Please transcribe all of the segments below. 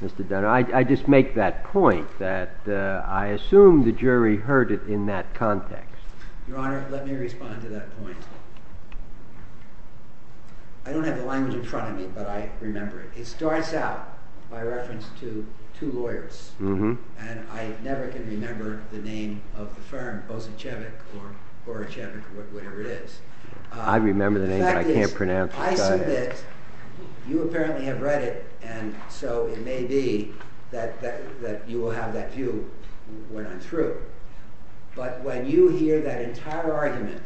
Mr. Dunn, I just make that point that I assume the jury heard it in that context. Your Honor, let me respond to that point. I don't have the language in front of me, but I remember it. It starts out by reference to two lawyers, and I never can remember the name of the firm, Bozichevich or Borichevich, whatever it is. I remember the name, but I can't pronounce the guy's name. You apparently have read it, and so it may be that you will have that view when I'm through. But when you hear that entire argument,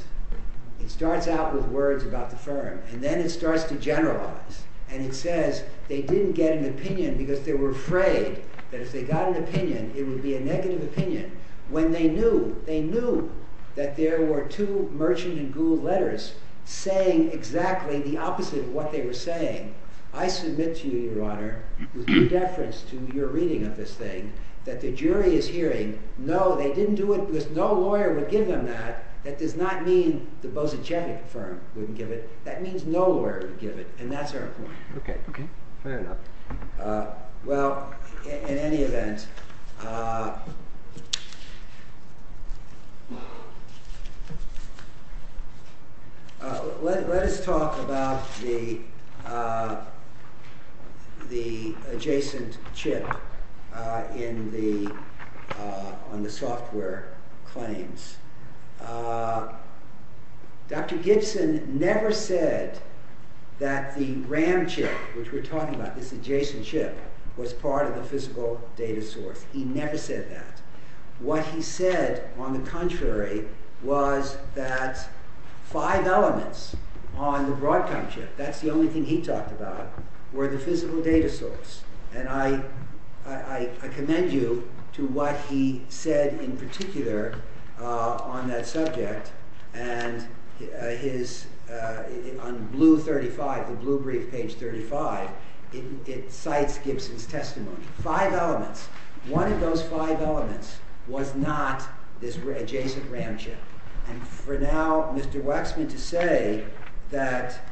it starts out with words about the firm, and then it starts to generalize, and it says they didn't get an opinion because they were afraid that if they got an opinion, it would be a negative opinion. When they knew, they knew that there were two merchant-in-goo letters saying exactly the opposite of what they were saying. I submit to you, Your Honor, with no deference to your reading of this thing, that the jury is hearing, no, they didn't do it because no lawyer would give them that. That does not mean the Bozichevich firm wouldn't give it. That means no lawyer would give it, and that's our point. Okay, fair enough. Well, in any event, let us talk about the adjacent chip on the software claims. Dr. Gibson never said that the RAM chip, which we're talking about, this adjacent chip, was part of the physical data source. He never said that. What he said, on the contrary, was that five elements on the Broadcom chip, that's the only thing he talked about, were the physical data source. And I commend you to what he said in particular on that subject. And on the blue brief, page 35, it cites Gibson's testimony. Five elements. One of those five elements was not this adjacent RAM chip. And for now, Mr. Waxman, to say that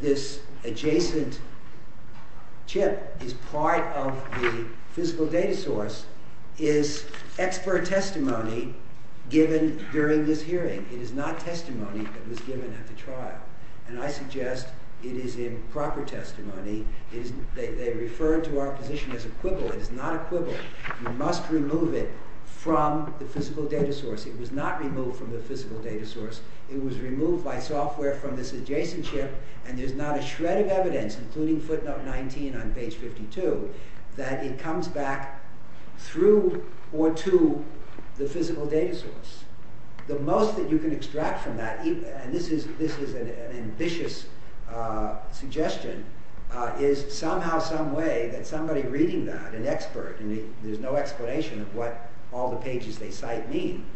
this adjacent chip is part of the physical data source is expert testimony given during this hearing. It is not testimony that was given at the trial. And I suggest it is improper testimony. They refer to our position as equivalent. You must remove it from the physical data source. It was not removed from the physical data source. It was removed by software from this adjacent chip. And there's not a shred of evidence, including footnote 19 on page 52, that it comes back through or to the physical data source. The most that you can extract from that, and this is an ambitious suggestion, is somehow some way that somebody reading that, an expert, and there's no explanation of what all the pages they cite mean,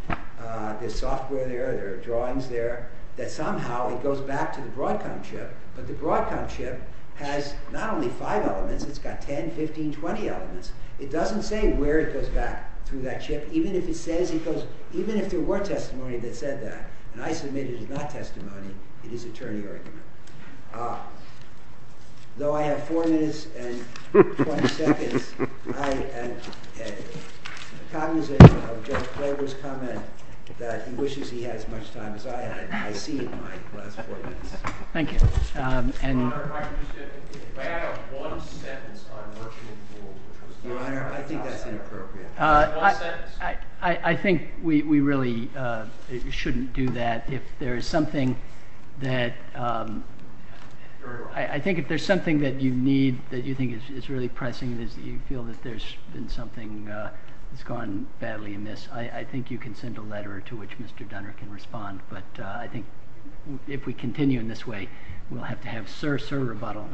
there's software there, there are drawings there, that somehow it goes back to the Broadcom chip. But the Broadcom chip has not only five elements, it's got 10, 15, 20 elements. It doesn't say where it goes back through that chip. Even if it says it goes, even if there were testimony that said that, and I submit it is not testimony, it is attorney argument. Though I have four minutes and 20 seconds, I am cognizant of Judge Klobuchar's comment that he wishes he had as much time as I had. I see in my last four minutes. Thank you. Your Honor, if I could just add one sentence on working in the world. Your Honor, I think that's inappropriate. One sentence. I think we really shouldn't do that. If there is something that you need, that you think is really pressing, that you feel that there's been something that's gone badly amiss, I think you can send a letter to which Mr. Dunner can respond. But I think if we continue in this way, we'll have to have sir, sir rebuttal.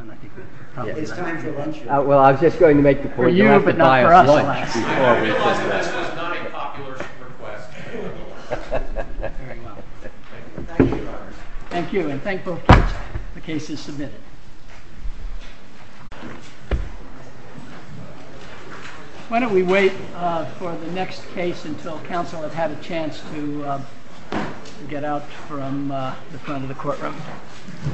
It's time for lunch. Well, I was just going to make the point that I have to buy a lunch. I realize this is not a popular request. Very well. Thank you, Your Honor. Thank you, and thank both cases submitted. Why don't we wait for the next case until counsel has had a chance to get out from the front of the courtroom. Thank you.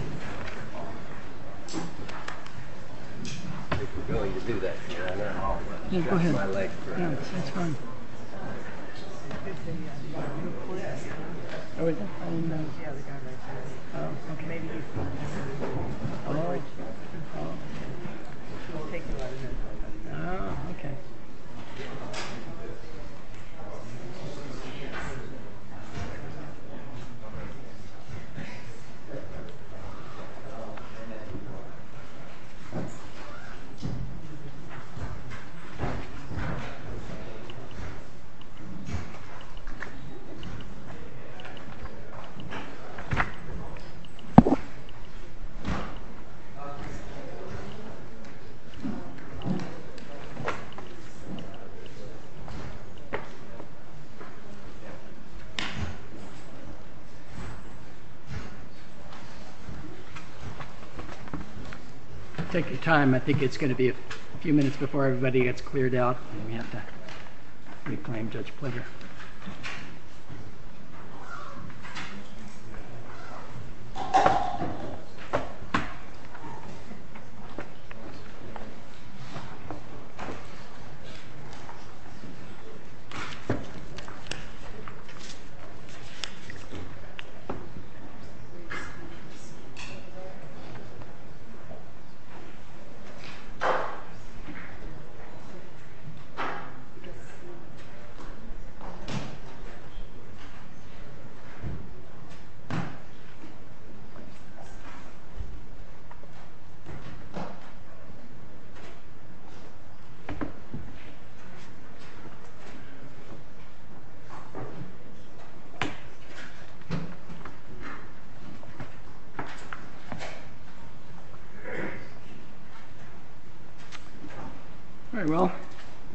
Take your time. I think it's going to be a few minutes before everybody gets cleared out, and we have to reclaim Judge Pleasure. Thank you. All right, well,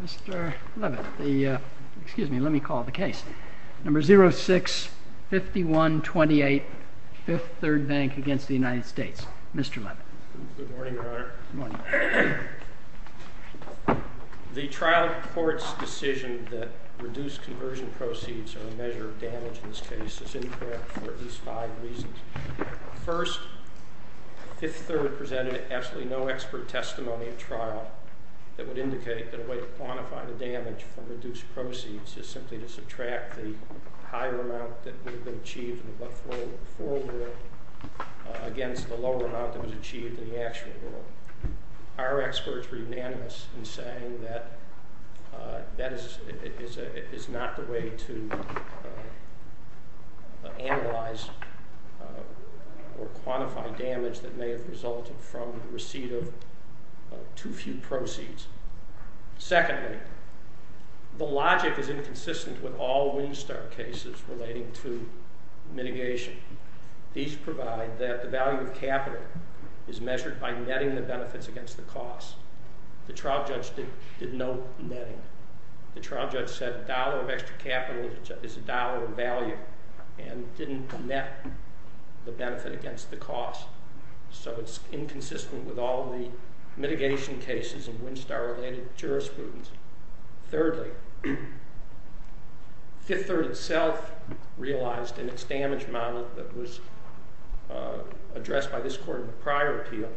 Mr. Leavitt, excuse me, let me call the case. Number 06-5128, Fifth Third Bank against the United States. Mr. Leavitt. Good morning, Your Honor. Good morning. The trial court's decision that reduced conversion proceeds are a measure of damage in this case is incorrect for at least five reasons. First, Fifth Third presented absolutely no expert testimony at trial that would indicate that a way to quantify the damage from reduced proceeds is simply to subtract the higher amount that would have been achieved in the before world against the lower amount that was achieved in the actual world. Our experts were unanimous in saying that that is not the way to analyze or quantify damage that may have resulted from the receipt of too few proceeds. Secondly, the logic is inconsistent with all Winstar cases relating to mitigation. These provide that the value of capital is measured by netting the benefits against the cost. The trial judge did no netting. The trial judge said a dollar of extra capital is a dollar in value and didn't net the benefit against the cost. So it's inconsistent with all the mitigation cases in Winstar-related jurisprudence. Thirdly, Fifth Third itself realized in its damage model that was addressed by this court in the prior appeal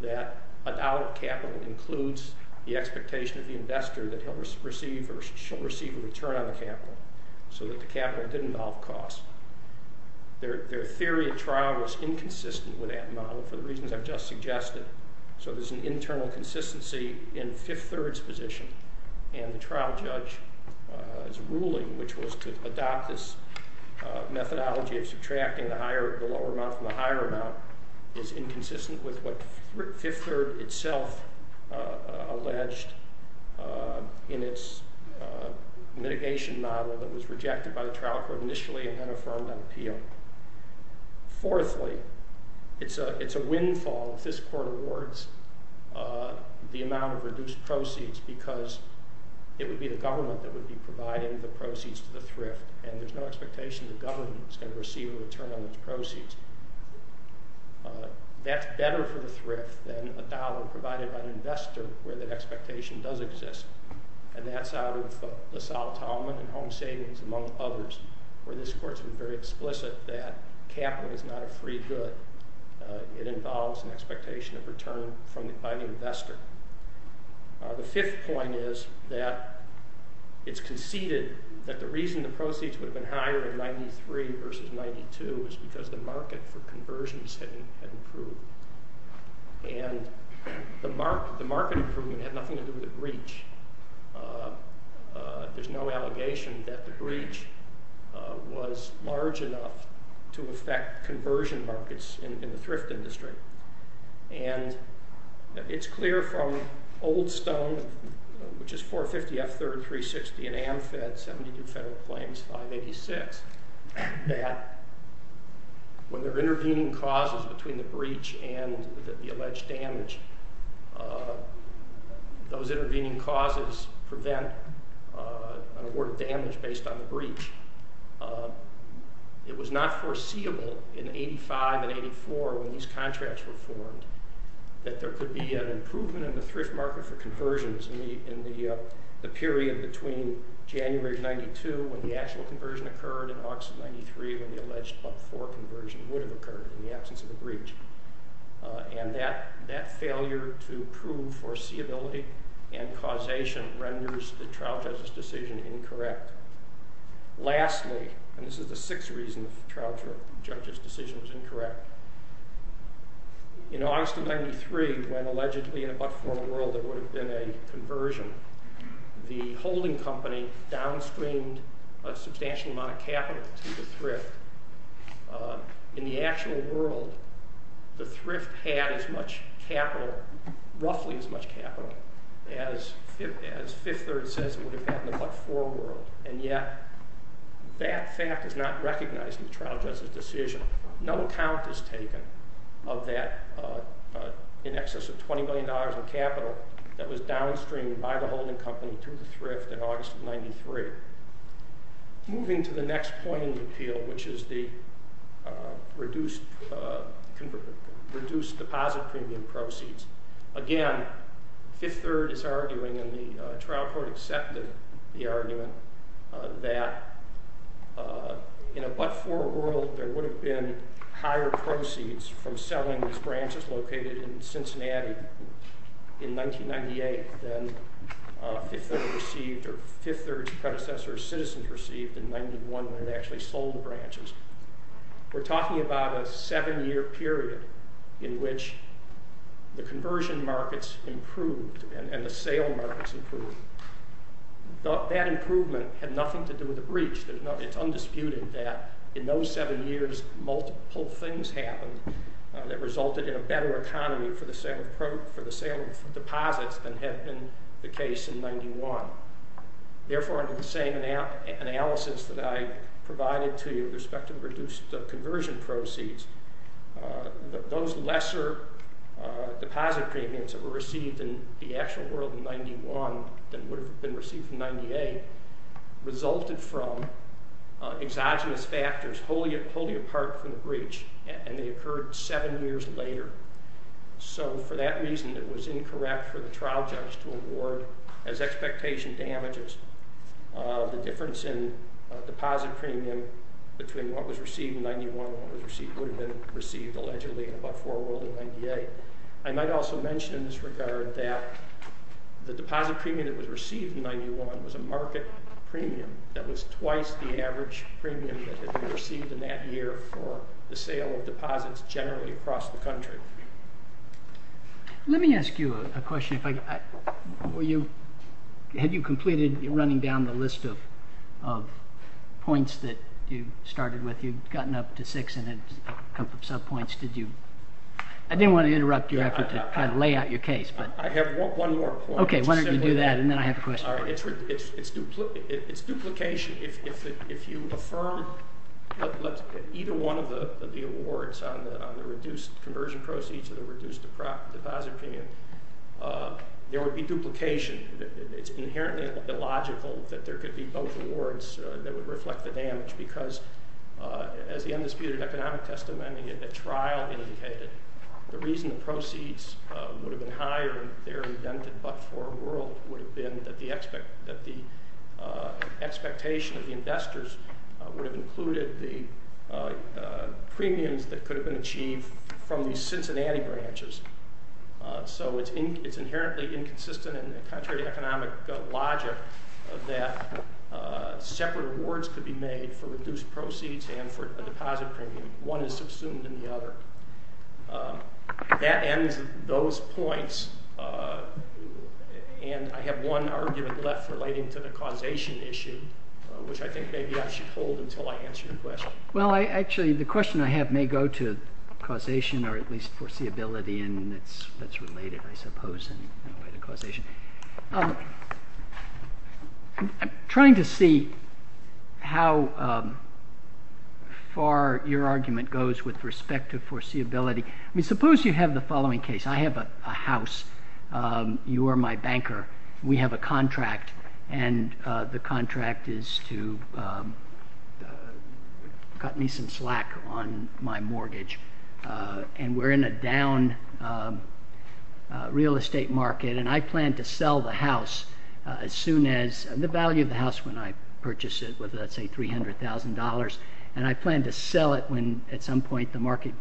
that a dollar of capital includes the expectation of the investor that he'll receive or she'll receive a return on the capital so that the capital didn't out-cost. Their theory at trial was inconsistent with that model for the reasons I've just suggested. So there's an internal consistency in Fifth Third's position. And the trial judge's ruling, which was to adopt this methodology of subtracting the lower amount from the higher amount, is inconsistent with what Fifth Third itself alleged in its mitigation model that was rejected by the trial court initially and then affirmed on appeal. Fourthly, it's a windfall if this court awards the amount of reduced proceeds because it would be the government that would be providing the proceeds to the thrift and there's no expectation the government is going to receive a return on those proceeds. That's better for the thrift than a dollar provided by an investor where that expectation does exist. And that's out of LaSalle-Taubman and home savings among others where this court's been very explicit that capital is not a free good. It involves an expectation of return by the investor. The fifth point is that it's conceded that the reason the proceeds would have been higher in 93 versus 92 is because the market for conversions had improved. And the market improvement had nothing to do with the breach. There's no allegation that the breach was large enough to affect conversion markets in the thrift industry. And it's clear from Old Stone, which is 450 F Third 360 and Amfed 72 Federal Claims 586 that when there are intervening causes between the breach and the alleged damage, those intervening causes prevent an award of damage based on the breach. It was not foreseeable in 85 and 84 when these contracts were formed that there could be an improvement in the thrift market for conversions in the period between January of 92 when the actual conversion occurred and August of 93 when the alleged Club 4 conversion would have occurred in the absence of a breach. And that failure to prove foreseeability and causation renders the trial justice decision incorrect. Lastly, and this is the sixth reason the trial judge's decision was incorrect, in August of 93 when allegedly in a but-for world there would have been a conversion, the holding company downstreamed a substantial amount of capital to the thrift. In the actual world, the thrift had as much capital, roughly as much capital, as Fifth Third says it would have had in the Club 4 world. And yet, that fact is not recognized in the trial judge's decision. No count is taken of that in excess of $20 million in capital that was downstreamed by the holding company to the thrift in August of 93. Moving to the next point in the appeal, which is the reduced deposit premium proceeds. Again, Fifth Third is arguing, and the trial court accepted the argument, that in a but-for world there would have been higher proceeds from selling these branches located in Cincinnati in 1998 than Fifth Third's predecessor, Citizens, received in 1991 when it actually sold the branches. We're talking about a seven-year period in which the conversion markets improved and the sale markets improved. That improvement had nothing to do with the breach. It's undisputed that in those seven years, multiple things happened that resulted in a better economy for the sale of deposits than had been the case in 91. Therefore, under the same analysis that I provided to you with respect to reduced conversion proceeds, those lesser deposit premiums that were received in the actual world in 91 than would have been received in 98 resulted from exogenous factors wholly apart from the breach, and they occurred seven years later. For that reason, it was incorrect for the trial judge to award, as expectation damages, the difference in deposit premium between what was received in 91 and what would have been received allegedly in a but-for world in 98. I might also mention in this regard that the deposit premium that was received in 91 was a market premium that was twice the average premium that had been received in that year for the sale of deposits generally across the country. Let me ask you a question. Had you completed running down the list of points that you started with? You've gotten up to six in a couple of subpoints. I didn't want to interrupt you after to kind of lay out your case. I have one more point. Okay, why don't you do that, and then I have a question. It's duplication. If you affirm either one of the awards on the reduced conversion proceeds or the reduced deposit premium, there would be duplication. It's inherently illogical that there could be both awards that would reflect the damage because as the undisputed economic testimony at trial indicated, the reason the proceeds would have been higher in their redemptive but-for world would have been that the expectation of the investors would have included the premiums that could have been achieved from the Cincinnati branches. So it's inherently inconsistent and contrary to economic logic that separate awards could be made for reduced proceeds and for a deposit premium. One is subsumed in the other. That ends those points, and I have one argument left relating to the causation issue, which I think maybe I should hold until I answer your question. Well, actually, the question I have may go to causation or at least foreseeability, and that's related, I suppose, in a way to causation. I'm trying to see how far your argument goes with respect to foreseeability. I mean, suppose you have the following case. I have a house. You are my banker. We have a contract, and the contract is to cut me some slack on my mortgage, and we're in a down real estate market, and I plan to sell the house as soon as the value of the house when I purchase it with, let's say, $300,000, and I plan to sell it when at some point the market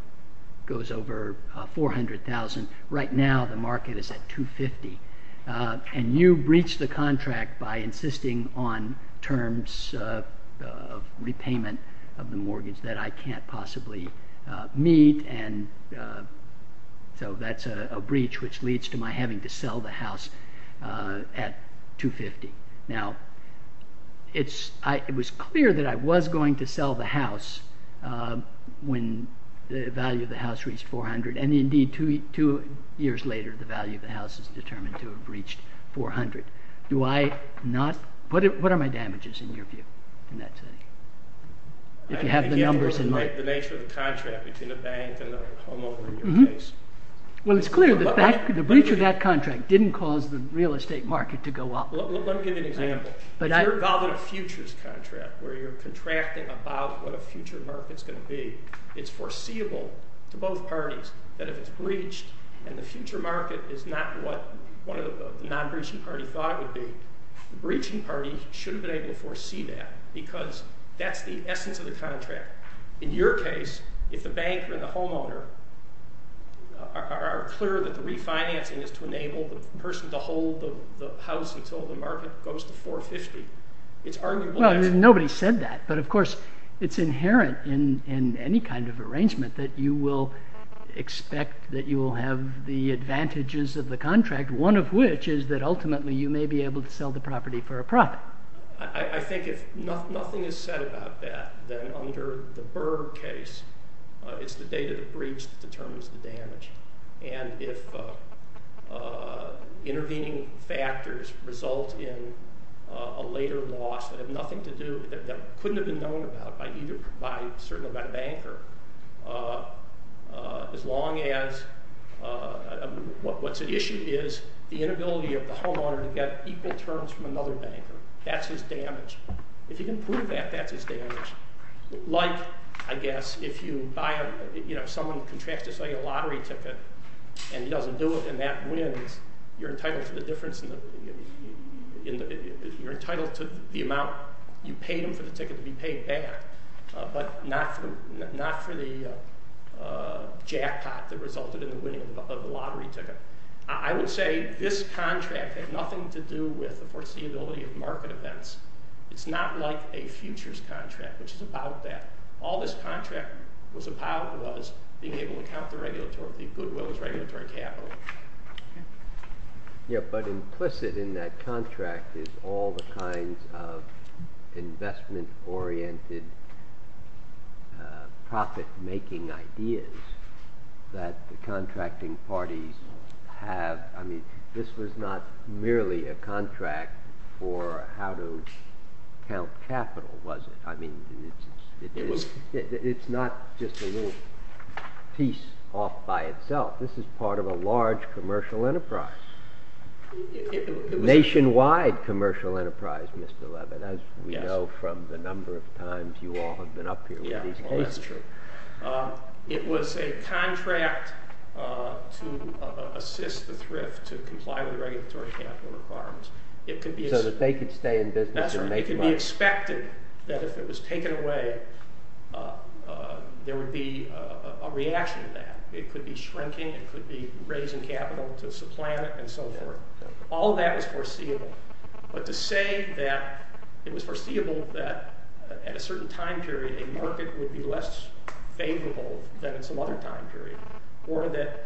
goes over $400,000. Right now the market is at $250,000, and you breach the contract by insisting on terms of repayment of the mortgage that I can't possibly meet, and so that's a breach which leads to my having to sell the house at $250,000. Now, it was clear that I was going to sell the house when the value of the house reached $400,000, and indeed two years later the value of the house is determined to have reached $400,000. What are my damages in your view in that setting? If you have the numbers in mind. The nature of the contract between the bank and the homeowner in your case. Well, it's clear that the breach of that contract didn't cause the real estate market to go up. Let me give you an example. If you're involved in a futures contract where you're contracting about what a future market's going to be, it's foreseeable to both parties that if it's breached and the future market is not what one of the non-breaching parties thought it would be, the breaching party should have been able to foresee that because that's the essence of the contract. In your case, if the bank and the homeowner are clear that the refinancing is to enable the person to hold the house until the market goes to $450,000, it's arguable that's... Well, nobody said that, but of course it's inherent in any kind of arrangement that you will expect that you will have the advantages of the contract, one of which is that ultimately you may be able to sell the property for a profit. I think if nothing is said about that, then under the Berg case, it's the data that breached that determines the damage. And if intervening factors result in a later loss that have nothing to do... by a certain amount of anchor, as long as... What's at issue is the inability of the homeowner to get equal terms from another banker. That's his damage. If you can prove that, that's his damage. Like, I guess, if someone contracts to sell you a lottery ticket and he doesn't do it and that wins, you're entitled to the difference in the... You're entitled to the amount you paid him for the ticket to be paid back, but not for the jackpot that resulted in the winning of the lottery ticket. I would say this contract had nothing to do with the foreseeability of market events. It's not like a futures contract, which is about that. All this contract was about was being able to count the goodwill as regulatory capital. Yeah, but implicit in that contract is all the kinds of investment-oriented profit-making ideas that the contracting parties have. I mean, this was not merely a contract for how to count capital, was it? I mean, it's not just a little piece off by itself. This is part of a large commercial enterprise, nationwide commercial enterprise, Mr. Leavitt, as we know from the number of times you all have been up here with these cases. Yeah, well, that's true. It was a contract to assist the thrift to comply with regulatory capital requirements. So that they could stay in business and make money. I expected that if it was taken away, there would be a reaction to that. It could be shrinking, it could be raising capital to supplant it, and so forth. All that was foreseeable. But to say that it was foreseeable that at a certain time period, a market would be less favorable than at some other time period, or that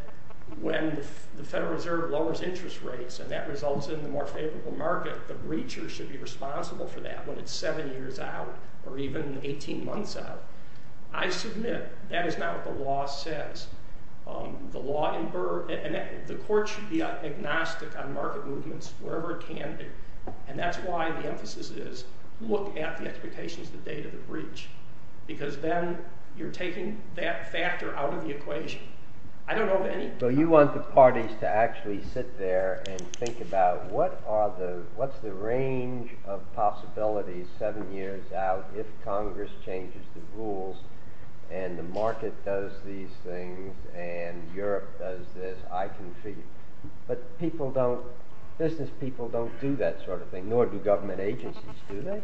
when the Federal Reserve lowers interest rates and that results in a more favorable market, the breacher should be responsible for that when it's seven years out, or even 18 months out. I submit that is not what the law says. The court should be agnostic on market movements wherever it can be. And that's why the emphasis is look at the expectations the date of the breach. Because then you're taking that factor out of the equation. So you want the parties to actually sit there and think about what's the range of possibilities seven years out if Congress changes the rules, and the market does these things, and Europe does this, I can figure it out. But business people don't do that sort of thing, nor do government agencies, do they?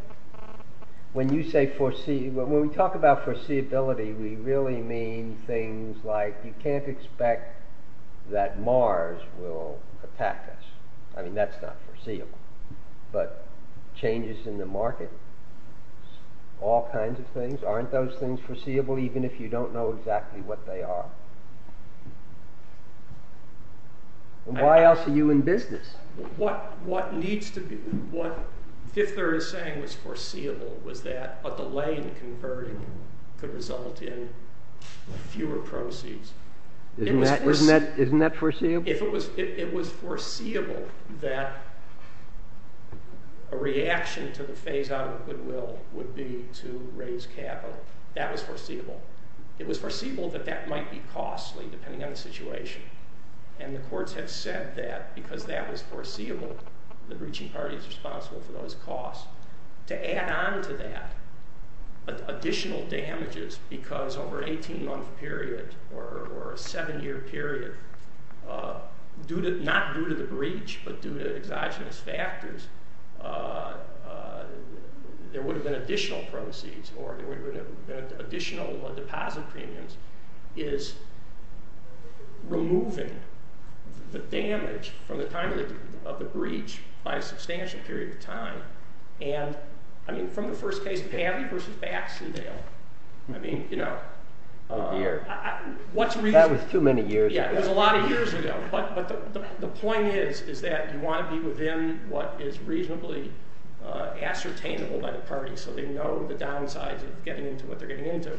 When we talk about foreseeability, we really mean things like you can't expect that Mars will attack us. I mean, that's not foreseeable. But changes in the market, all kinds of things, aren't those things foreseeable even if you don't know exactly what they are? And why else are you in business? What Fifth Area is saying was foreseeable was that a delay in converting could result in fewer proceeds. Isn't that foreseeable? It was foreseeable that a reaction to the phase-out of Goodwill would be to raise capital. That was foreseeable. It was foreseeable that that might be costly, depending on the situation. And the courts have said that because that was foreseeable, the breaching party is responsible for those costs. To add on to that additional damages because over an 18-month period or a seven-year period, not due to the breach, but due to exogenous factors, there would have been additional proceeds or there would have been additional deposit premiums is removing the damage from the time of the breach by a substantial period of time. And I mean, from the first case of Pavley versus Baxendale, I mean, you know, That was too many years ago. Yeah, it was a lot of years ago. But the point is that you want to be within what is reasonably ascertainable by the party so they know the downsides of getting into what they're getting into.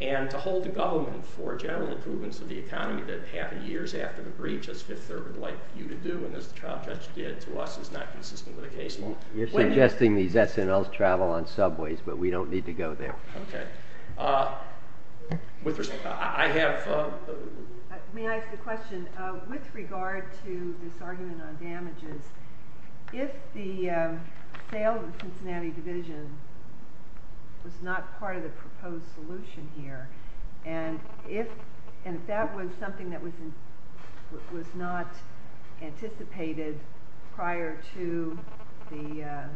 And to hold the government for general approvals of the economy that half a year after the breach, as Fifth Third would like you to do and as the trial judge did to us, is not consistent with the case. You're suggesting these SNLs travel on subways, but we don't need to go there. Okay. May I ask a question? With regard to this argument on damages, if the sale of the Cincinnati division was not part of the proposed solution here, and if that was something that was not anticipated prior to the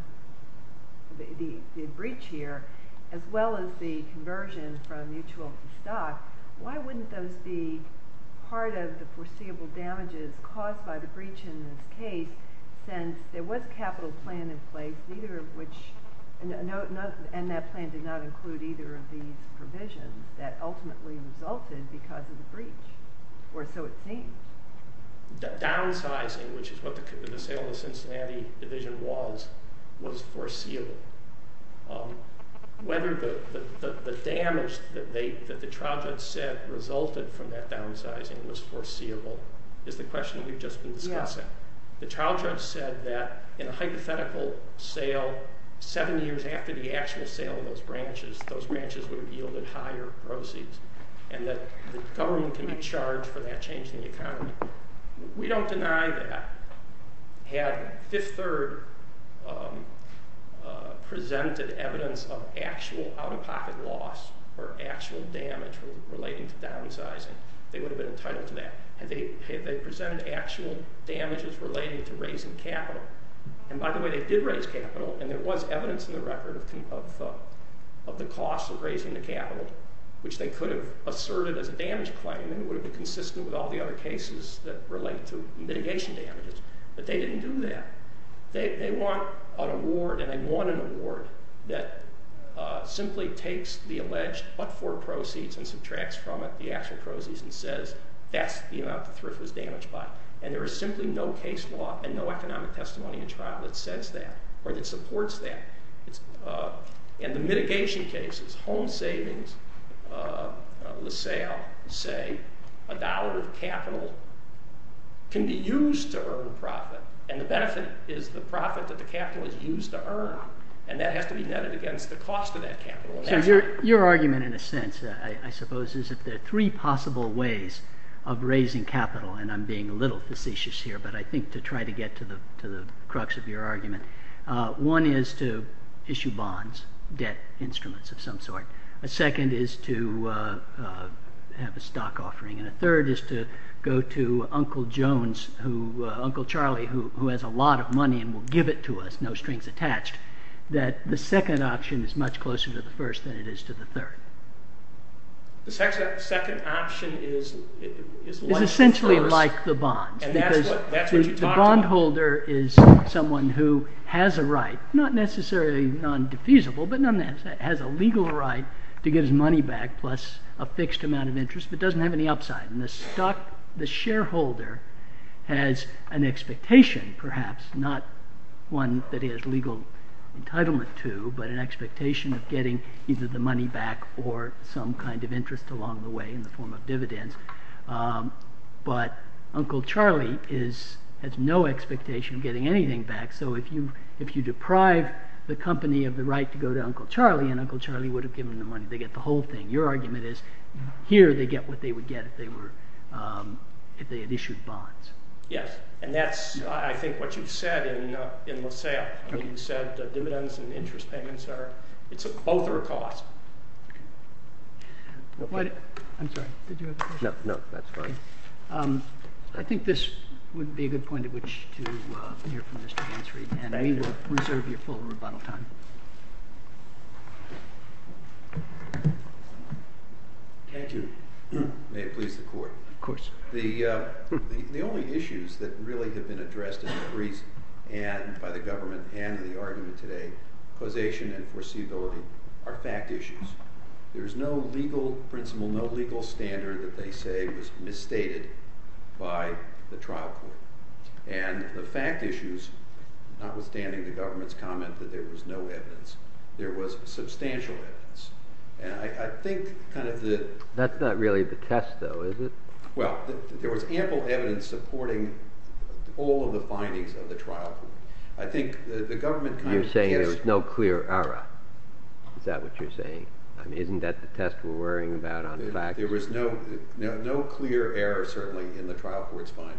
breach here, as well as the conversion from mutual to stock, why wouldn't those be part of the foreseeable damages caused by the breach in this case since there was a capital plan in place and that plan did not include either of these provisions that ultimately resulted because of the breach, or so it seems? The downsizing, which is what the sale of the Cincinnati division was, was foreseeable. Whether the damage that the trial judge said resulted from that downsizing was foreseeable is the question we've just been discussing. The trial judge said that in a hypothetical sale, seven years after the actual sale of those branches, those branches would have yielded higher proceeds and that the government can be charged for that change in the economy. We don't deny that. Had Fifth Third presented evidence of actual out-of-pocket loss or actual damage relating to downsizing, they would have been entitled to that. Had they presented actual damages relating to raising capital, and by the way, they did raise capital, and there was evidence in the record of the cost of raising the capital, which they could have asserted as a damage claim and it would have been consistent with all the other cases that relate to mitigation damages, but they didn't do that. They want an award, and they want an award that simply takes the alleged but-for proceeds and subtracts from it the actual proceeds and says that's the amount the thrift was damaged by, and there is simply no case law and no economic testimony in trial that says that or that supports that. In the mitigation cases, home savings, the sale, say, a dollar of capital can be used to earn profit, and the benefit is the profit that the capital is used to earn, and that has to be netted against the cost of that capital. Your argument, in a sense, I suppose, is that there are three possible ways of raising capital, and I'm being a little facetious here, but I think to try to get to the crux of your argument, one is to issue bonds, debt instruments of some sort. A second is to have a stock offering, and a third is to go to Uncle Jones, Uncle Charlie, who has a lot of money and will give it to us, no strings attached, that the second option is much closer to the first than it is to the third. The second option is less than the first. That's what you talked about. The bondholder is someone who has a right, not necessarily non-defeasible, but nonetheless has a legal right to give his money back plus a fixed amount of interest, but doesn't have any upside. The shareholder has an expectation, perhaps, not one that he has legal entitlement to, but an expectation of getting either the money back or some kind of interest along the way in the form of dividends. But Uncle Charlie has no expectation of getting anything back, so if you deprive the company of the right to go to Uncle Charlie, and Uncle Charlie would have given them the money, they get the whole thing. Your argument is here they get what they would get if they had issued bonds. Yes, and that's, I think, what you said in LaSalle. You said dividends and interest payments, both are a cost. I'm sorry, did you have a question? No, that's fine. I think this would be a good point at which to hear from Mr. Hansreid, and we will reserve your full rebuttal time. Thank you. May it please the Court. Of course. The only issues that really have been addressed in the briefs by the government and in the argument today, causation and foreseeability, are fact issues. There is no legal principle, no legal standard that they say was misstated by the trial court. And the fact issues, notwithstanding the government's comment that there was no evidence, there was substantial evidence. That's not really the test, though, is it? Well, there was ample evidence supporting all of the findings of the trial court. You're saying there was no clear error. Is that what you're saying? Isn't that the test we're worrying about on facts? There was no clear error, certainly, in the trial court's findings.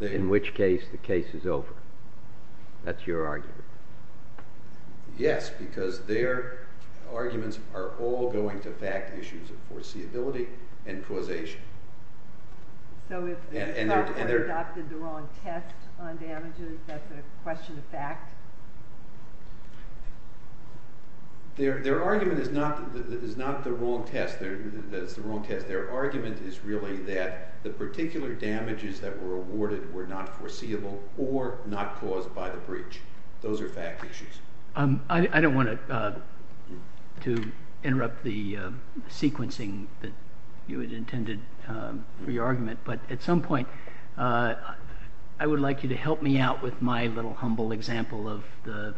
In which case the case is over. That's your argument. Yes, because their arguments are all going to fact issues of foreseeability and causation. So if the trial court adopted the wrong test on damages, that's a question of fact? Their argument is not the wrong test, that it's the wrong test. Their argument is really that the particular damages that were awarded were not foreseeable or not caused by the breach. Those are fact issues. I don't want to interrupt the sequencing that you had intended for your argument, but at some point I would like you to help me out with my little humble example of the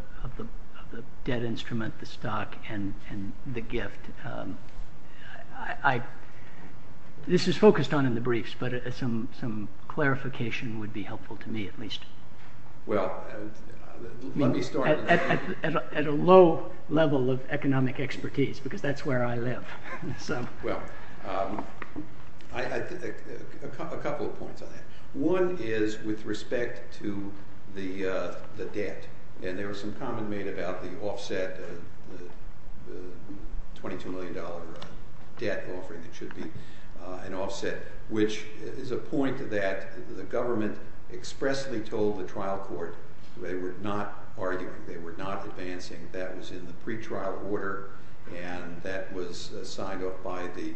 dead instrument, the stock, and the gift. This is focused on in the briefs, but some clarification would be helpful to me, at least. Well, let me start. At a low level of economic expertise, because that's where I live. Well, a couple of points on that. One is with respect to the debt. And there was some comment made about the offset, the $22 million debt offering that should be an offset, which is a point that the government expressly told the trial court they were not arguing, they were not advancing. That was in the pretrial order, and that was signed off by the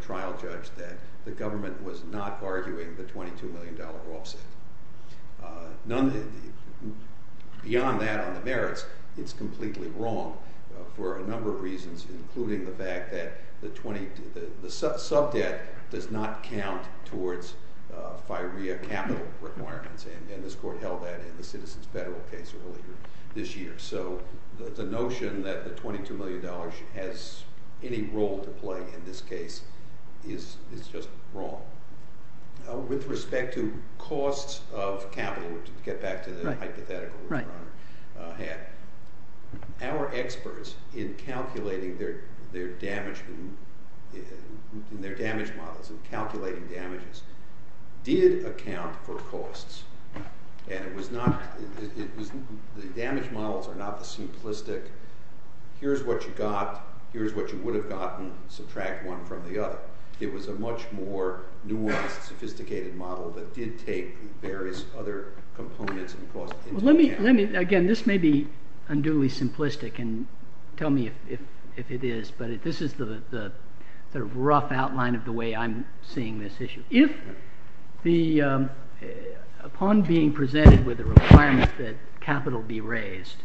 trial judge that the government was not arguing the $22 million offset. Beyond that on the merits, it's completely wrong for a number of reasons, including the fact that the sub-debt does not count towards FIREA capital requirements, and this court held that in the Citizens Federal case earlier this year. So the notion that the $22 million has any role to play in this case is just wrong. With respect to costs of capital, to get back to the hypothetical that your Honor had, our experts in calculating their damage models, in calculating damages, did account for costs. The damage models are not the simplistic here's what you got, here's what you would have gotten, subtract one from the other. It was a much more nuanced, sophisticated model that did take various other components and cost into account. Again, this may be unduly simplistic, and tell me if it is, but this is the rough outline of the way I'm seeing this issue. If upon being presented with a requirement that capital be raised,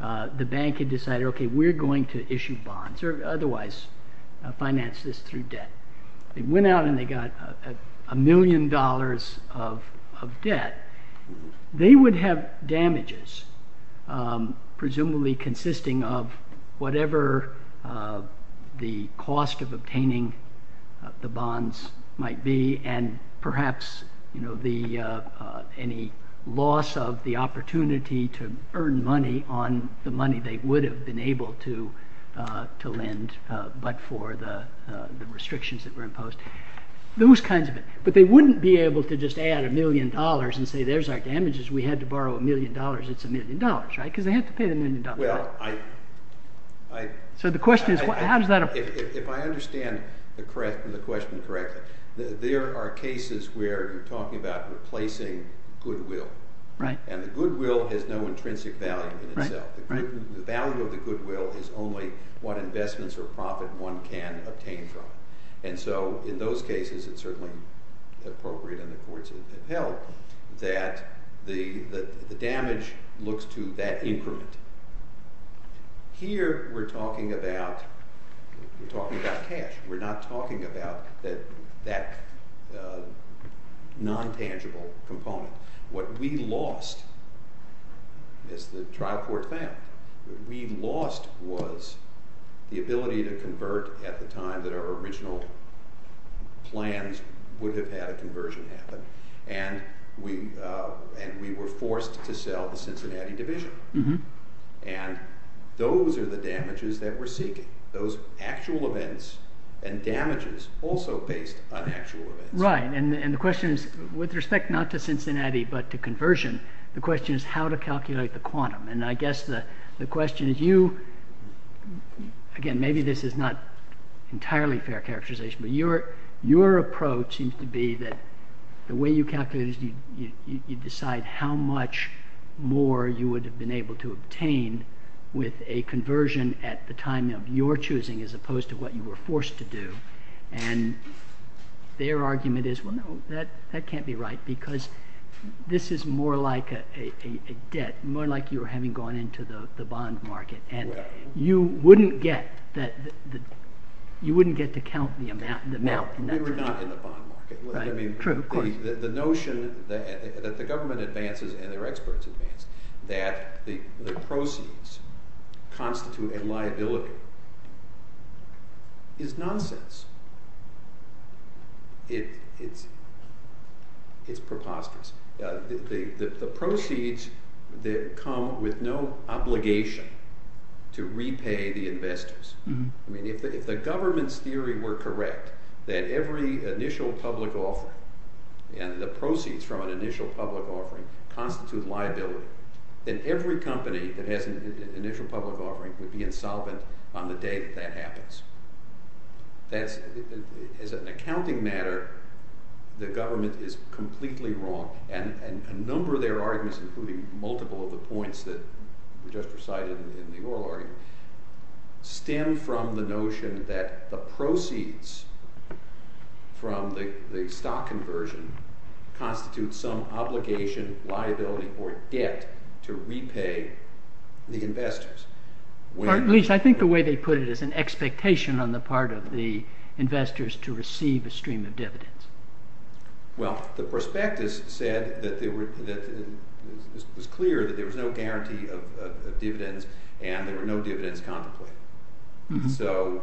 the bank had decided, okay, we're going to issue bonds, or otherwise finance this through debt. They went out and they got a million dollars of debt. They would have damages, presumably consisting of whatever the cost of obtaining the bonds might be, and perhaps any loss of the opportunity to earn money on the money they would have been able to lend, but for the restrictions that were imposed. Those kinds of things. But they wouldn't be able to just add a million dollars and say there's our damages, we had to borrow a million dollars, it's a million dollars, right? Because they have to pay the million dollars. So the question is how does that apply? If I understand the question correctly, there are cases where you're talking about replacing goodwill. And the goodwill has no intrinsic value in itself. The value of the goodwill is only what investments or profit one can obtain from it. And so in those cases it's certainly appropriate, and the courts have held, that the damage looks to that increment. Here we're talking about cash. We're not talking about that non-tangible component. What we lost is the trial court plan. What we lost was the ability to convert at the time that our original plans would have had a conversion happen. And we were forced to sell the Cincinnati division. And those are the damages that we're seeking. Those actual events and damages also based on actual events. Right, and the question is with respect not to Cincinnati but to conversion, the question is how to calculate the quantum. And I guess the question is you, again maybe this is not entirely fair characterization, but your approach seems to be that the way you calculate it is you decide how much more you would have been able to obtain with a conversion at the time of your choosing as opposed to what you were forced to do. And their argument is, well, no, that can't be right because this is more like a debt, more like you were having gone into the bond market. And you wouldn't get to count the amount. No, we were not in the bond market. True, of course. The notion that the government advances and their experts advance that the proceeds constitute a liability is nonsense. It's preposterous. The proceeds come with no obligation to repay the investors. I mean if the government's theory were correct that every initial public offering and the proceeds from an initial public offering constitute liability, then every company that has an initial public offering would be insolvent on the day that that happens. As an accounting matter, the government is completely wrong. And a number of their arguments, including multiple of the points that were just recited in the oral argument, stem from the notion that the proceeds from the stock conversion constitute some obligation, liability, or debt to repay the investors. At least I think the way they put it is an expectation on the part of the investors to receive a stream of dividends. Well, the prospectus said that it was clear that there was no guarantee of dividends and there were no dividends contemplated. So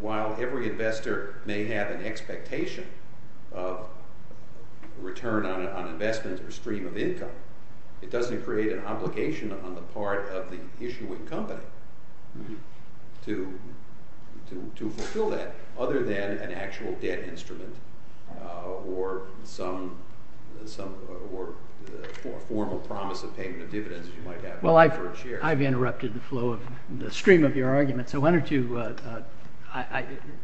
while every investor may have an expectation of return on investment or stream of income, it doesn't create an obligation on the part of the issuing company to fulfill that other than an actual debt instrument or a formal promise of payment of dividends you might have. Well, I've interrupted the stream of your argument, so why don't you...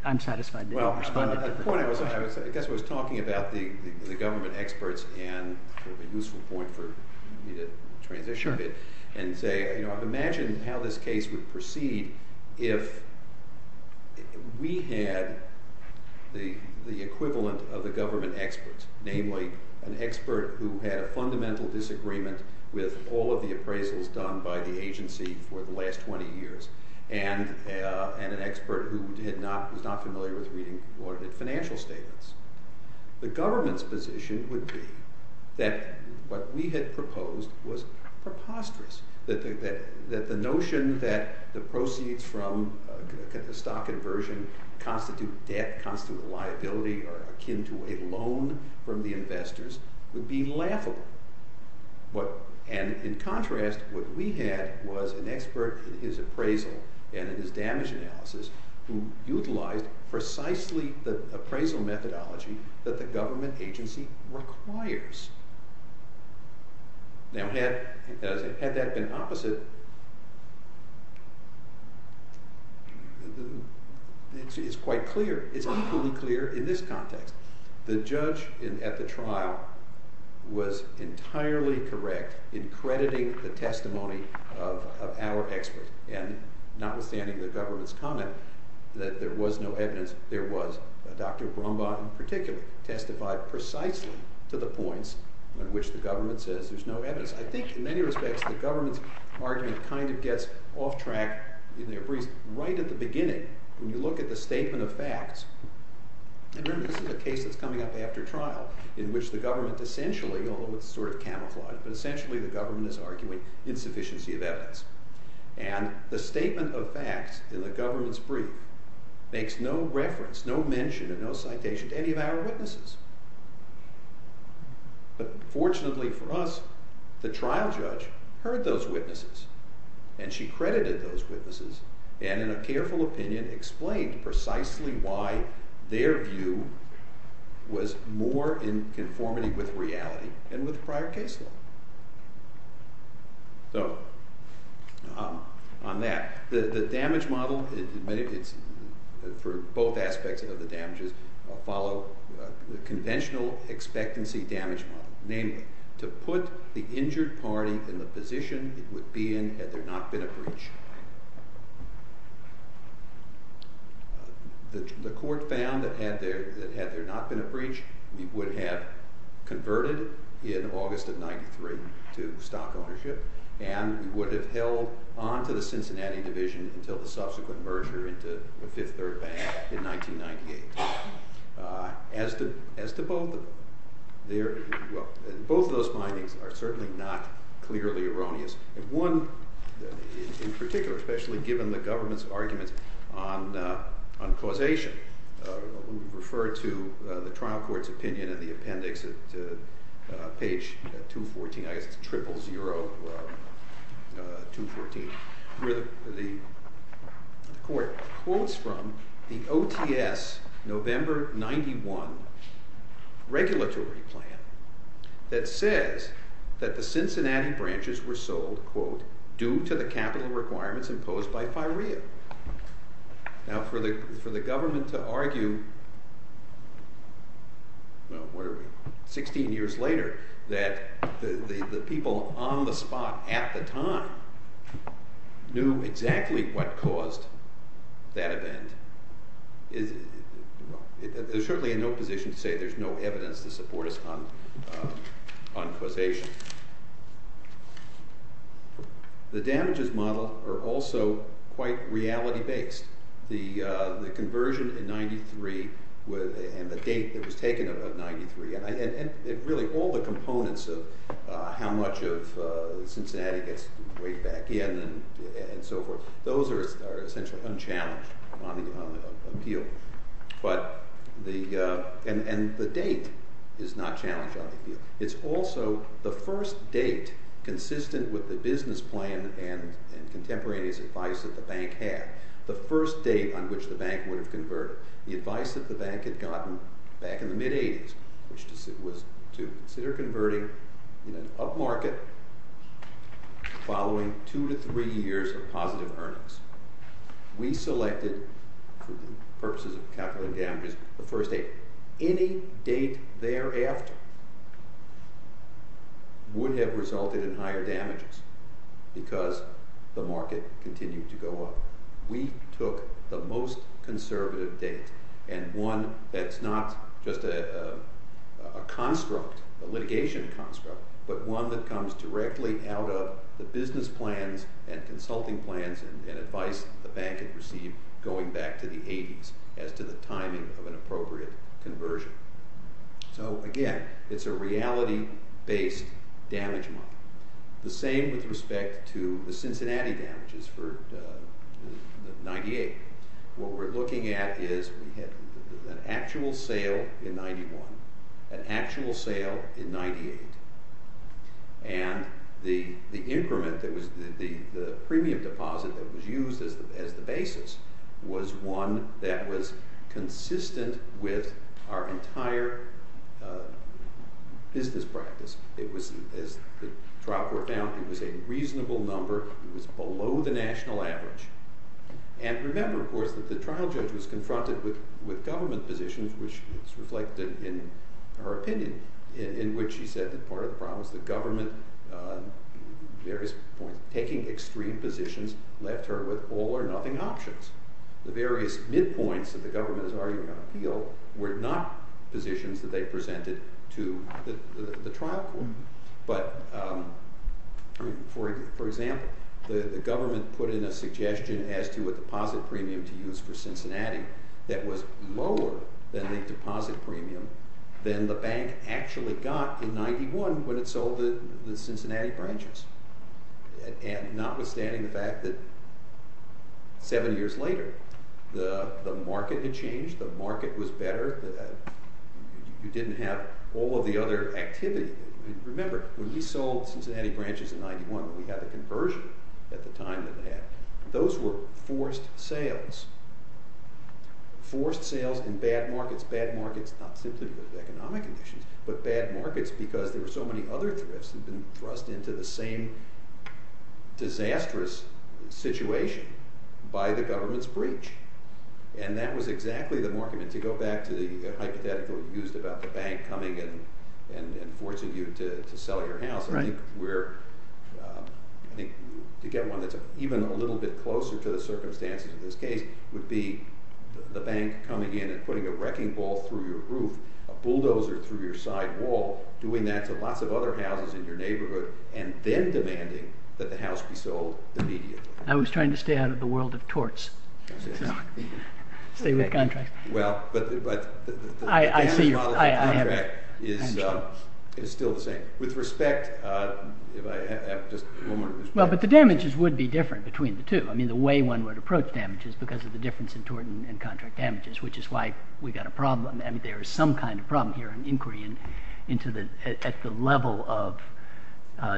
I'm satisfied that you responded. Well, I guess I was talking about the government experts and a useful point for me to transition a bit and say I've imagined how this case would proceed if we had the equivalent of the government experts, namely an expert who had a fundamental disagreement with all of the appraisals done by the agency for the last 20 years and an expert who was not familiar with reading audited financial statements. The government's position would be that what we had proposed was preposterous, that the notion that the proceeds from the stock conversion constitute debt, constitute liability, or akin to a loan from the investors would be laughable. And in contrast, what we had was an expert in his appraisal and in his damage analysis who utilized precisely the appraisal methodology that the government agency requires. Now, had that been opposite, it's quite clear, it's equally clear in this context. The judge at the trial was entirely correct in crediting the testimony of our expert and notwithstanding the government's comment that there was no evidence, there was. Dr. Brumbaugh in particular testified precisely to the points at which the government says there's no evidence. I think in many respects the government's argument kind of gets off track in their briefs. Right at the beginning, when you look at the statement of facts, and remember this is a case that's coming up after trial in which the government essentially, although it's sort of camouflaged, but essentially the government is arguing insufficiency of evidence. And the statement of facts in the government's brief makes no reference, no mention, and no citation to any of our witnesses. But fortunately for us, the trial judge heard those witnesses and she credited those witnesses and in a careful opinion explained precisely why their view was more in conformity with reality than with prior case law. So, on that. The damage model, for both aspects of the damages, follow the conventional expectancy damage model. Namely, to put the injured party in the position it would be in had there not been a breach. The court found that had there not been a breach, we would have converted in August of 93 to stock ownership and would have held on to the Cincinnati division until the subsequent merger into the Fifth Third Bank in 1998. As to both, both of those findings are certainly not clearly erroneous. One, in particular, especially given the government's arguments on causation, we refer to the trial court's opinion in the appendix at page 214, I guess it's 000214, where the court quotes from the OTS November 91 regulatory plan that says that the Cincinnati branches were sold, quote, due to the capital requirements imposed by FIREA. Now, for the government to argue, 16 years later, that the people on the spot at the time knew exactly what caused that event, is certainly in no position to say there's no evidence to support us on causation. The damages model are also quite reality-based. The conversion in 93 and the date that was taken of 93, and really all the components of how much of Cincinnati gets weighed back in and so forth, those are essentially unchallenged on the appeal. And the date is not challenged on the appeal. It's also the first date consistent with the business plan and contemporaneous advice that the bank had, the first date on which the bank would have converted, the advice that the bank had gotten back in the mid-'80s, which was to consider converting in an up market following two to three years of positive earnings. We selected, for the purposes of capital and damages, the first date. Any date thereafter would have resulted in higher damages because the market continued to go up. We took the most conservative date, and one that's not just a litigation construct, but one that comes directly out of the business plans and consulting plans and advice the bank had received going back to the 80s as to the timing of an appropriate conversion. So again, it's a reality-based damage model. The same with respect to the Cincinnati damages for 98. What we're looking at is an actual sale in 91, an actual sale in 98, and the premium deposit that was used as the basis was one that was consistent with our entire business practice. As the trial court found, it was a reasonable number. It was below the national average. And remember, of course, that the trial judge was confronted with government positions, which is reflected in her opinion, in which she said that part of the problem was the government taking extreme positions left her with all or nothing options. The various midpoints that the government is arguing on appeal were not positions that they presented to the trial court. But for example, the government put in a suggestion as to what deposit premium to use for Cincinnati that was lower than the deposit premium than the bank actually got in 91 when it sold the Cincinnati branches. And notwithstanding the fact that seven years later, the market had changed, the market was better, you didn't have all of the other activity. Remember, when we sold Cincinnati branches in 91, we had a conversion at the time that they had. Those were forced sales. Forced sales in bad markets. Bad markets not simply because of economic conditions, but bad markets because there were so many other thrifts that had been thrust into the same disastrous situation by the government's breach. And that was exactly the market. And to go back to the hypothetical you used about the bank coming in and forcing you to sell your house, I think to get one that's even a little bit closer to the circumstances of this case would be the bank coming in and putting a wrecking ball through your roof, a bulldozer through your side wall, doing that to lots of other houses in your neighborhood, and then demanding that the house be sold immediately. I was trying to stay out of the world of torts. Stay with contracts. Well, but the damage model of the contract is still the same. With respect, if I have just one more... Well, but the damages would be different between the two. I mean, the way one would approach damage is because of the difference in tort and contract damages, which is why we've got a problem. I mean, there is some kind of problem here in inquiry at the level of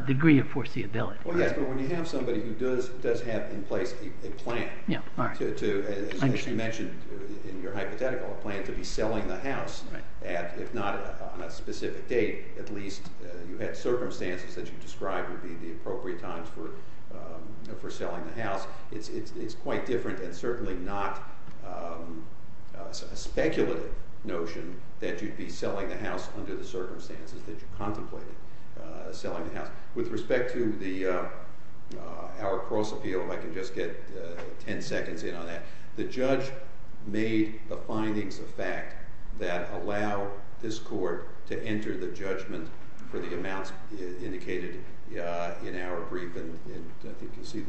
degree of foreseeability. Well, yes, but when you have somebody who does have in place a plan to, as you mentioned in your hypothetical, a plan to be selling the house, if not on a specific date, at least you had circumstances that you described would be the appropriate times for selling the house, it's quite different and certainly not a speculative notion that you'd be selling the house under the circumstances that you contemplated selling the house. With respect to our cross-appeal, if I can just get 10 seconds in on that, the judge made the findings of fact that allow this court to enter the judgment for the amounts indicated in our brief, and you can see that,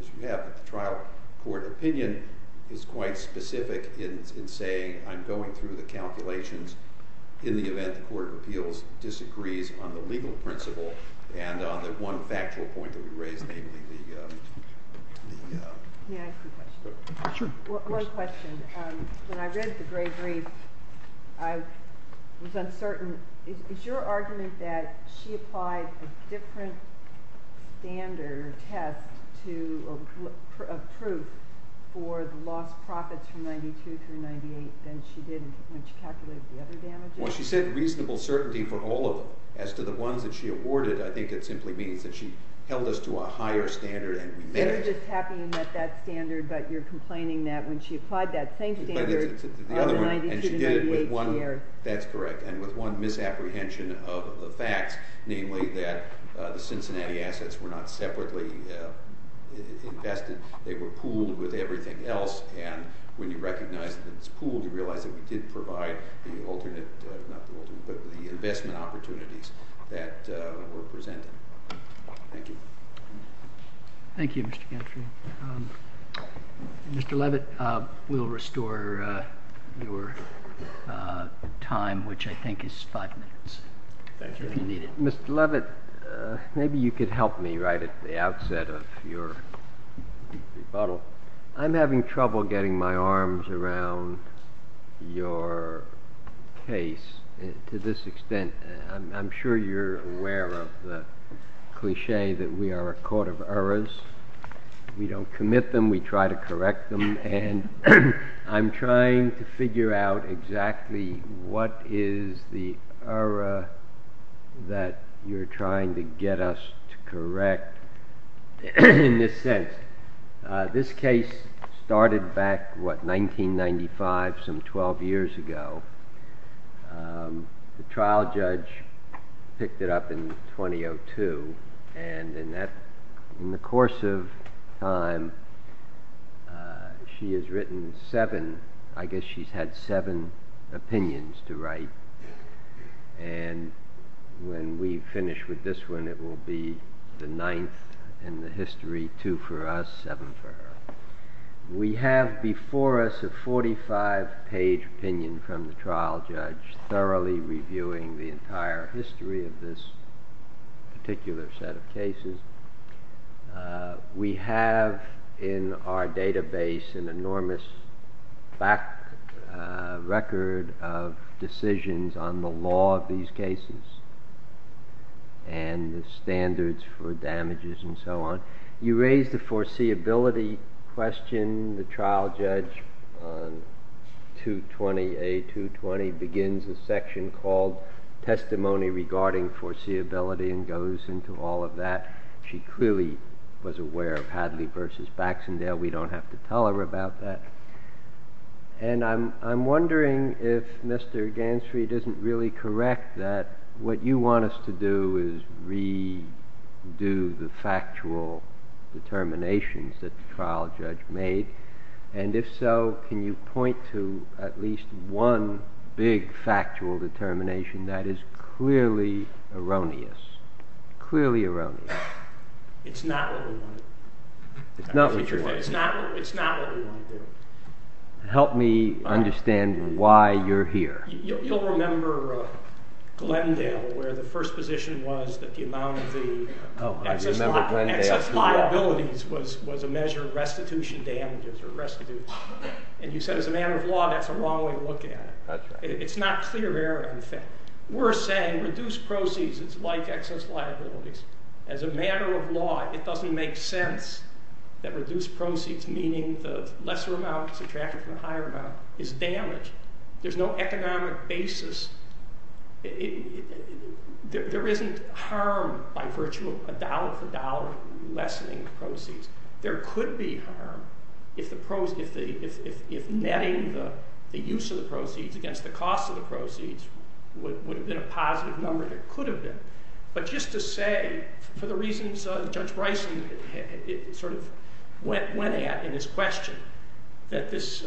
as you have, the trial court opinion is quite specific in saying I'm going through the calculations in the event the court of appeals disagrees on the legal principle and on the one factual point that we raised, namely the... May I ask a question? Sure. One question. When I read the gray brief, I was uncertain. Is your argument that she applied a different standard test of proof for the lost profits from 92 through 98 than she did when she calculated the other damages? Well, she said reasonable certainty for all of them. As to the ones that she awarded, I think it simply means that she held us to a higher standard and we met it. You're just happy you met that standard, but you're complaining that when she applied that same standard and she did it with one... That's correct. And with one misapprehension of the facts, namely that the Cincinnati assets were not separately invested. They were pooled with everything else, and when you recognize that it's pooled, you realize that we did provide the alternate... not the alternate, but the investment opportunities that were presented. Thank you. Thank you, Mr. Gentry. Mr. Levitt, we'll restore your time, which I think is five minutes, if you need it. Mr. Levitt, maybe you could help me right at the outset of your rebuttal. I'm having trouble getting my arms around your case to this extent. I'm sure you're aware of the cliche that we are a court of errors. We don't commit them. We try to correct them, and I'm trying to figure out exactly what is the error that you're trying to get us to correct in this sense. This case started back, what, 1995, some 12 years ago. The trial judge picked it up in 2002, and in the course of time, she has written seven... I guess she's had seven opinions to write, and when we finish with this one, it will be the ninth in the history, two for us, seven for her. We have before us a 45-page opinion from the trial judge thoroughly reviewing the entire history of this particular set of cases. We have in our database an enormous back record of decisions on the law of these cases and the standards for damages and so on. You raised the foreseeability question. The trial judge, 220A220, begins a section called Testimony Regarding Foreseeability and goes into all of that. She clearly was aware of Hadley v. Baxendale. We don't have to tell her about that. And I'm wondering if Mr. Gansfried isn't really correct that what you want us to do is redo the factual determinations that the trial judge made, and if so, can you point to at least one big factual determination that is clearly erroneous? Clearly erroneous. It's not what we wanted. It's not what you wanted. It's not what we wanted. Help me understand why you're here. You'll remember Glendale, where the first position was that the amount of the excess liabilities was a measure of restitution damages or restitutes. And you said as a matter of law, that's the wrong way to look at it. It's not clear error, in fact. We're saying reduced proceeds, it's like excess liabilities. As a matter of law, it doesn't make sense that reduced proceeds, meaning the lesser amount subtracted from the higher amount, is damage. There's no economic basis. There isn't harm by virtue of a dollar for dollar through lessening proceeds. There could be harm if netting the use of the proceeds against the cost of the proceeds would have been a positive number, and it could have been. But just to say, for the reasons Judge Bryson sort of went at in his question, that this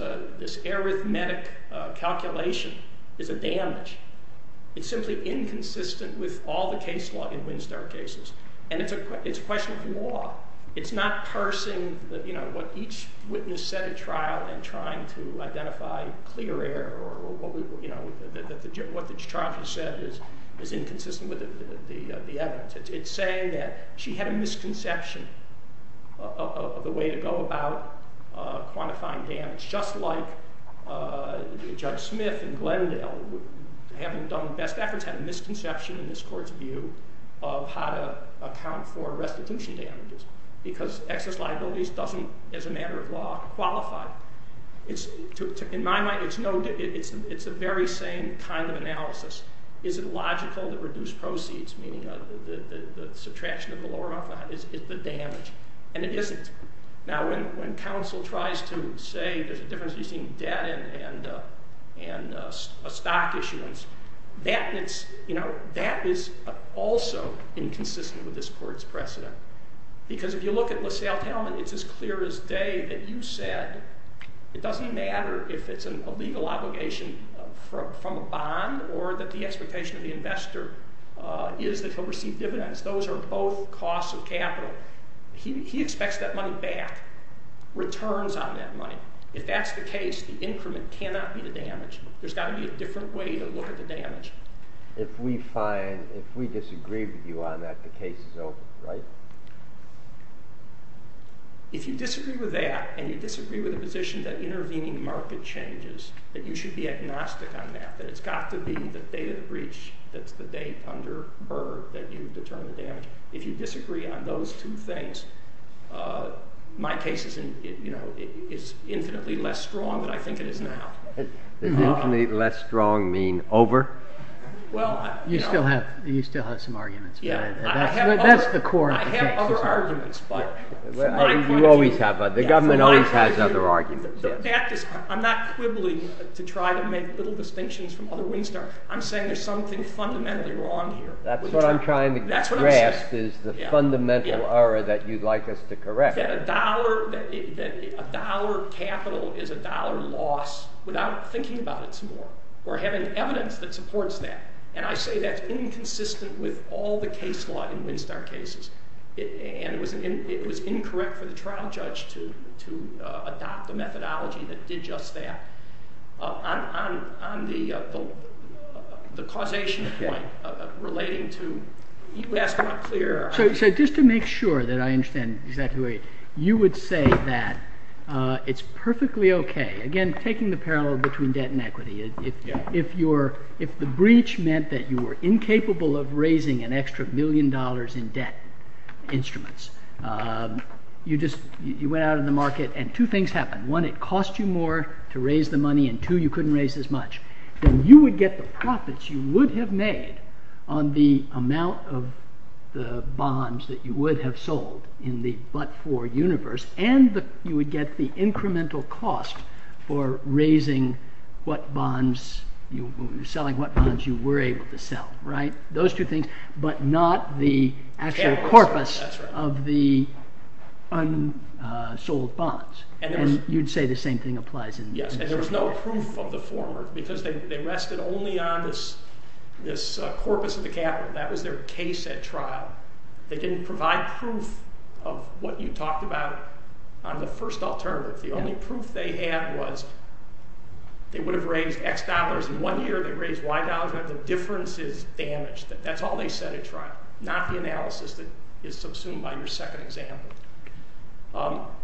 arithmetic calculation is a damage. It's simply inconsistent with all the case law in Winstar cases. And it's a question of law. It's not parsing what each witness said at trial and trying to identify clear error or what the charge has said is inconsistent with the evidence. It's saying that she had a misconception of the way to go about quantifying damage, just like Judge Smith and Glendale, having done the best efforts, had a misconception in this court's view of how to account for restitution damages because excess liabilities doesn't, as a matter of law, qualify. In my mind, it's a very sane kind of analysis. Is it logical that reduced proceeds, meaning the subtraction of the lower amount, is the damage? And it isn't. Now, when counsel tries to say there's a difference between debt and stock issuance, that is also inconsistent with this court's precedent. Because if you look at LaSalle Talman, it's as clear as day that you said it doesn't matter if it's a legal obligation from a bond or that the expectation of the investor is that he'll receive dividends. Those are both costs of capital. He expects that money back, returns on that money. If that's the case, the increment cannot be the damage. There's got to be a different way to look at the damage. If we disagree with you on that, the case is over, right? If you disagree with that and you disagree with the position that intervening market changes, then you should be agnostic on that, that it's got to be the day of the breach, that's the day under BIRB, that you determine the damage. If you disagree on those two things, my case is infinitely less strong than I think it is now. Does infinitely less strong mean over? You still have some arguments. Yeah. That's the core. I have other arguments, but... You always have, but the government always has other arguments. I'm not quibbling to try to make little distinctions from other Wingstars. I'm saying there's something fundamentally wrong here. That's what I'm trying to grasp is the fundamental error that you'd like us to correct. That a dollar capital is a dollar loss without thinking about it some more, or having evidence that supports that. And I say that's inconsistent with all the case law in Wingstar cases. And it was incorrect for the trial judge to adopt a methodology that did just that. On the causation point relating to... You asked about clear... So just to make sure that I understand exactly what you... You would say that it's perfectly okay... Again, taking the parallel between debt and equity. If the breach meant that you were incapable of raising an extra million dollars in debt instruments, you just went out in the market, and two things happened. One, it cost you more to raise the money, and two, you couldn't raise as much. Then you would get the profits you would have made on the amount of the bonds that you would have sold in the but-for universe, and you would get the incremental cost for selling what bonds you were able to sell. Those two things, but not the actual corpus of the unsold bonds. And you'd say the same thing applies in... Yes, and there was no proof of the former because they rested only on this corpus of the capital. That was their case at trial. They didn't provide proof of what you talked about on the first alternative. The only proof they had was they would have raised X dollars in one year, they raised Y dollars, but the difference is damage. That's all they said at trial, not the analysis that is subsumed by your second example.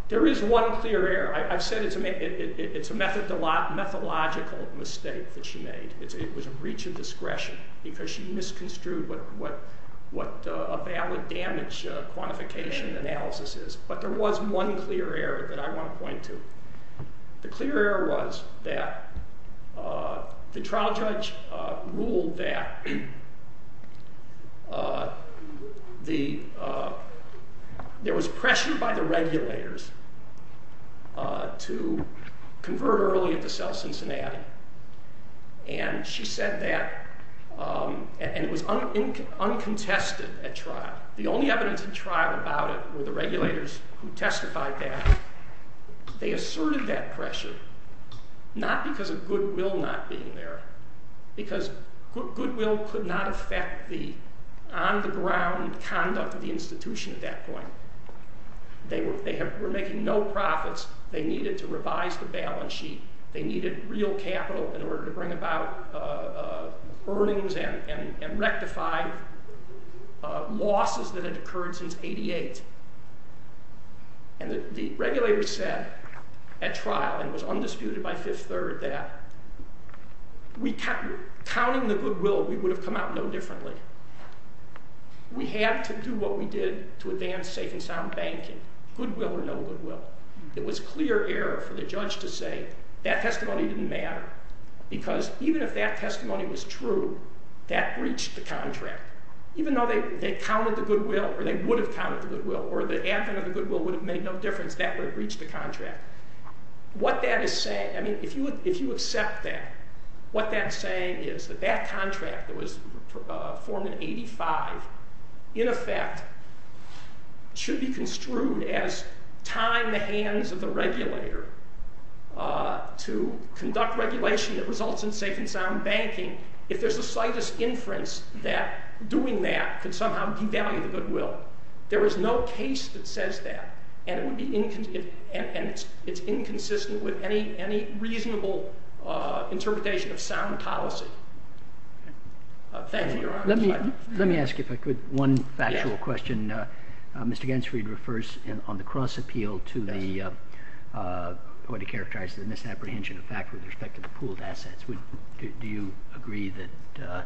There is one clear error. I've said it's a methodological mistake that she made. It was a breach of discretion because she misconstrued what a valid damage quantification analysis is, but there was one clear error that I want to point to. The clear error was that the trial judge ruled that there was pressure by the regulators to convert early to sell Cincinnati, and she said that, and it was uncontested at trial. The only evidence at trial about it were the regulators who testified that. They asserted that pressure, not because of goodwill not being there, because goodwill could not affect the on-the-ground conduct of the institution at that point. They were making no profits. They needed to revise the balance sheet. They needed real capital in order to bring about earnings and rectify losses that had occurred since 1988, and the regulators said at trial, and it was undisputed by Fifth Third, that counting the goodwill, we would have come out no differently. We had to do what we did to advance safe and sound banking, goodwill or no goodwill. There was clear error for the judge to say that testimony didn't matter, because even if that testimony was true, that breached the contract. Even though they counted the goodwill, or they would have counted the goodwill, or the advent of the goodwill would have made no difference, that would have breached the contract. what that's saying is that that contract that was formed in 1985, in effect, should be construed as tying the hands of the regulator to conduct regulation that results in safe and sound banking if there's the slightest inference that doing that could somehow devalue the goodwill. There is no case that says that, and it's inconsistent with any reasonable interpretation of sound policy. Thank you, Your Honor. Let me ask you, if I could, one factual question. Mr. Gansfried refers on the cross-appeal to the point he characterized, the misapprehension of fact with respect to the pooled assets. Do you agree that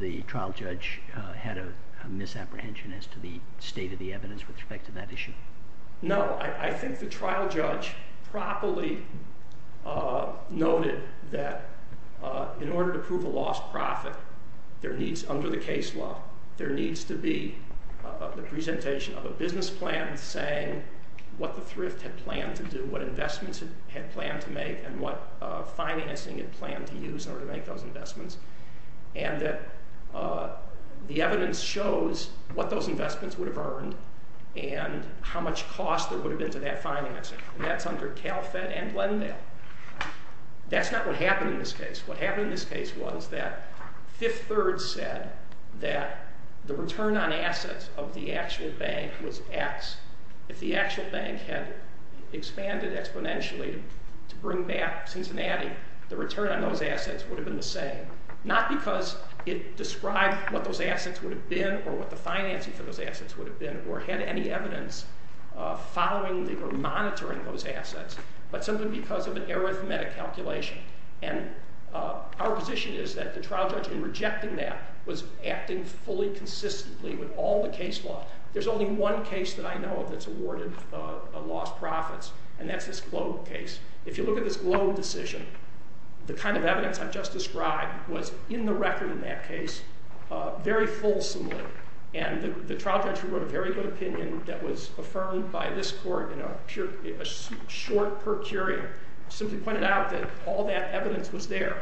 the trial judge had a misapprehension as to the state of the evidence with respect to that issue? No, I think the trial judge properly noted that in order to prove a lost profit, there needs, under the case law, there needs to be the presentation of a business plan saying what the thrift had planned to do, what investments it had planned to make, and what financing it planned to use in order to make those investments, and that the evidence shows what those investments would have earned and how much cost there would have been to that financing, and that's under CalFed and Glendale. That's not what happened in this case. What happened in this case was that Fifth Third said that the return on assets of the actual bank was X. If the actual bank had expanded exponentially to bring back Cincinnati, the return on those assets would have been the same, not because it described what those assets would have been or what the financing for those assets would have been or had any evidence following or monitoring those assets, but simply because of an arithmetic calculation, and our position is that the trial judge, in rejecting that, was acting fully consistently with all the case law. There's only one case that I know of that's awarded lost profits, and that's this Globe case. If you look at this Globe decision, the kind of evidence I've just described was in the record in that case very fulsomely, and the trial judge who wrote a very good opinion that was affirmed by this court in a short per curia simply pointed out that all that evidence was there.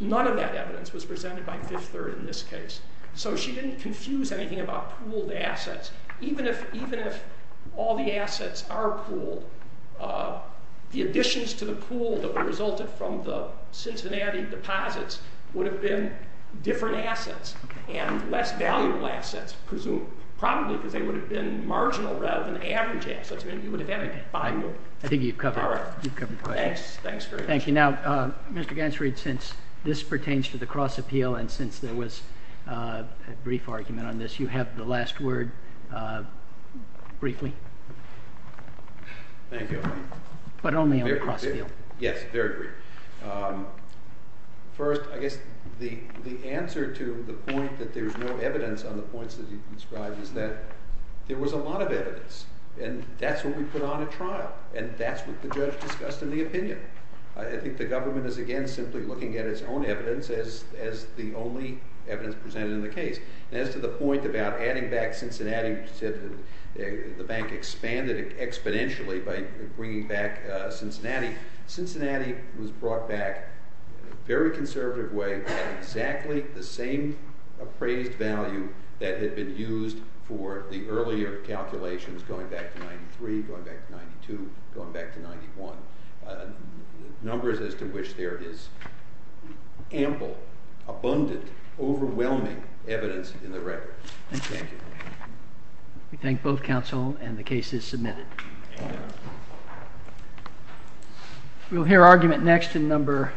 None of that evidence was presented by Fifth Third in this case, so she didn't confuse anything about pooled assets. Even if all the assets are pooled, the additions to the pool that resulted from the Cincinnati deposits would have been different assets and less valuable assets, presumably, probably because they would have been marginal rather than average assets. I think you've covered the question. Thanks very much. Now, Mr. Gansreed, since this pertains to the cross-appeal and since there was a brief argument on this, you have the last word briefly. Thank you. But only on the cross-appeal. Yes, very briefly. First, I guess the answer to the point that there's no evidence on the points that he describes is that there was a lot of evidence, and that's what we put on at trial, and that's what the judge discussed in the opinion. I think the government is, again, simply looking at its own evidence as the only evidence presented in the case. As to the point about adding back Cincinnati, you said the bank expanded exponentially by bringing back Cincinnati. Cincinnati was brought back in a very conservative way with exactly the same appraised value that had been used for the earlier calculations, going back to 93, going back to 92, going back to 91. Numbers as to which there is ample, abundant, overwhelming evidence in the records. Thank you. We thank both counsel, and the case is submitted. We'll hear argument next in number...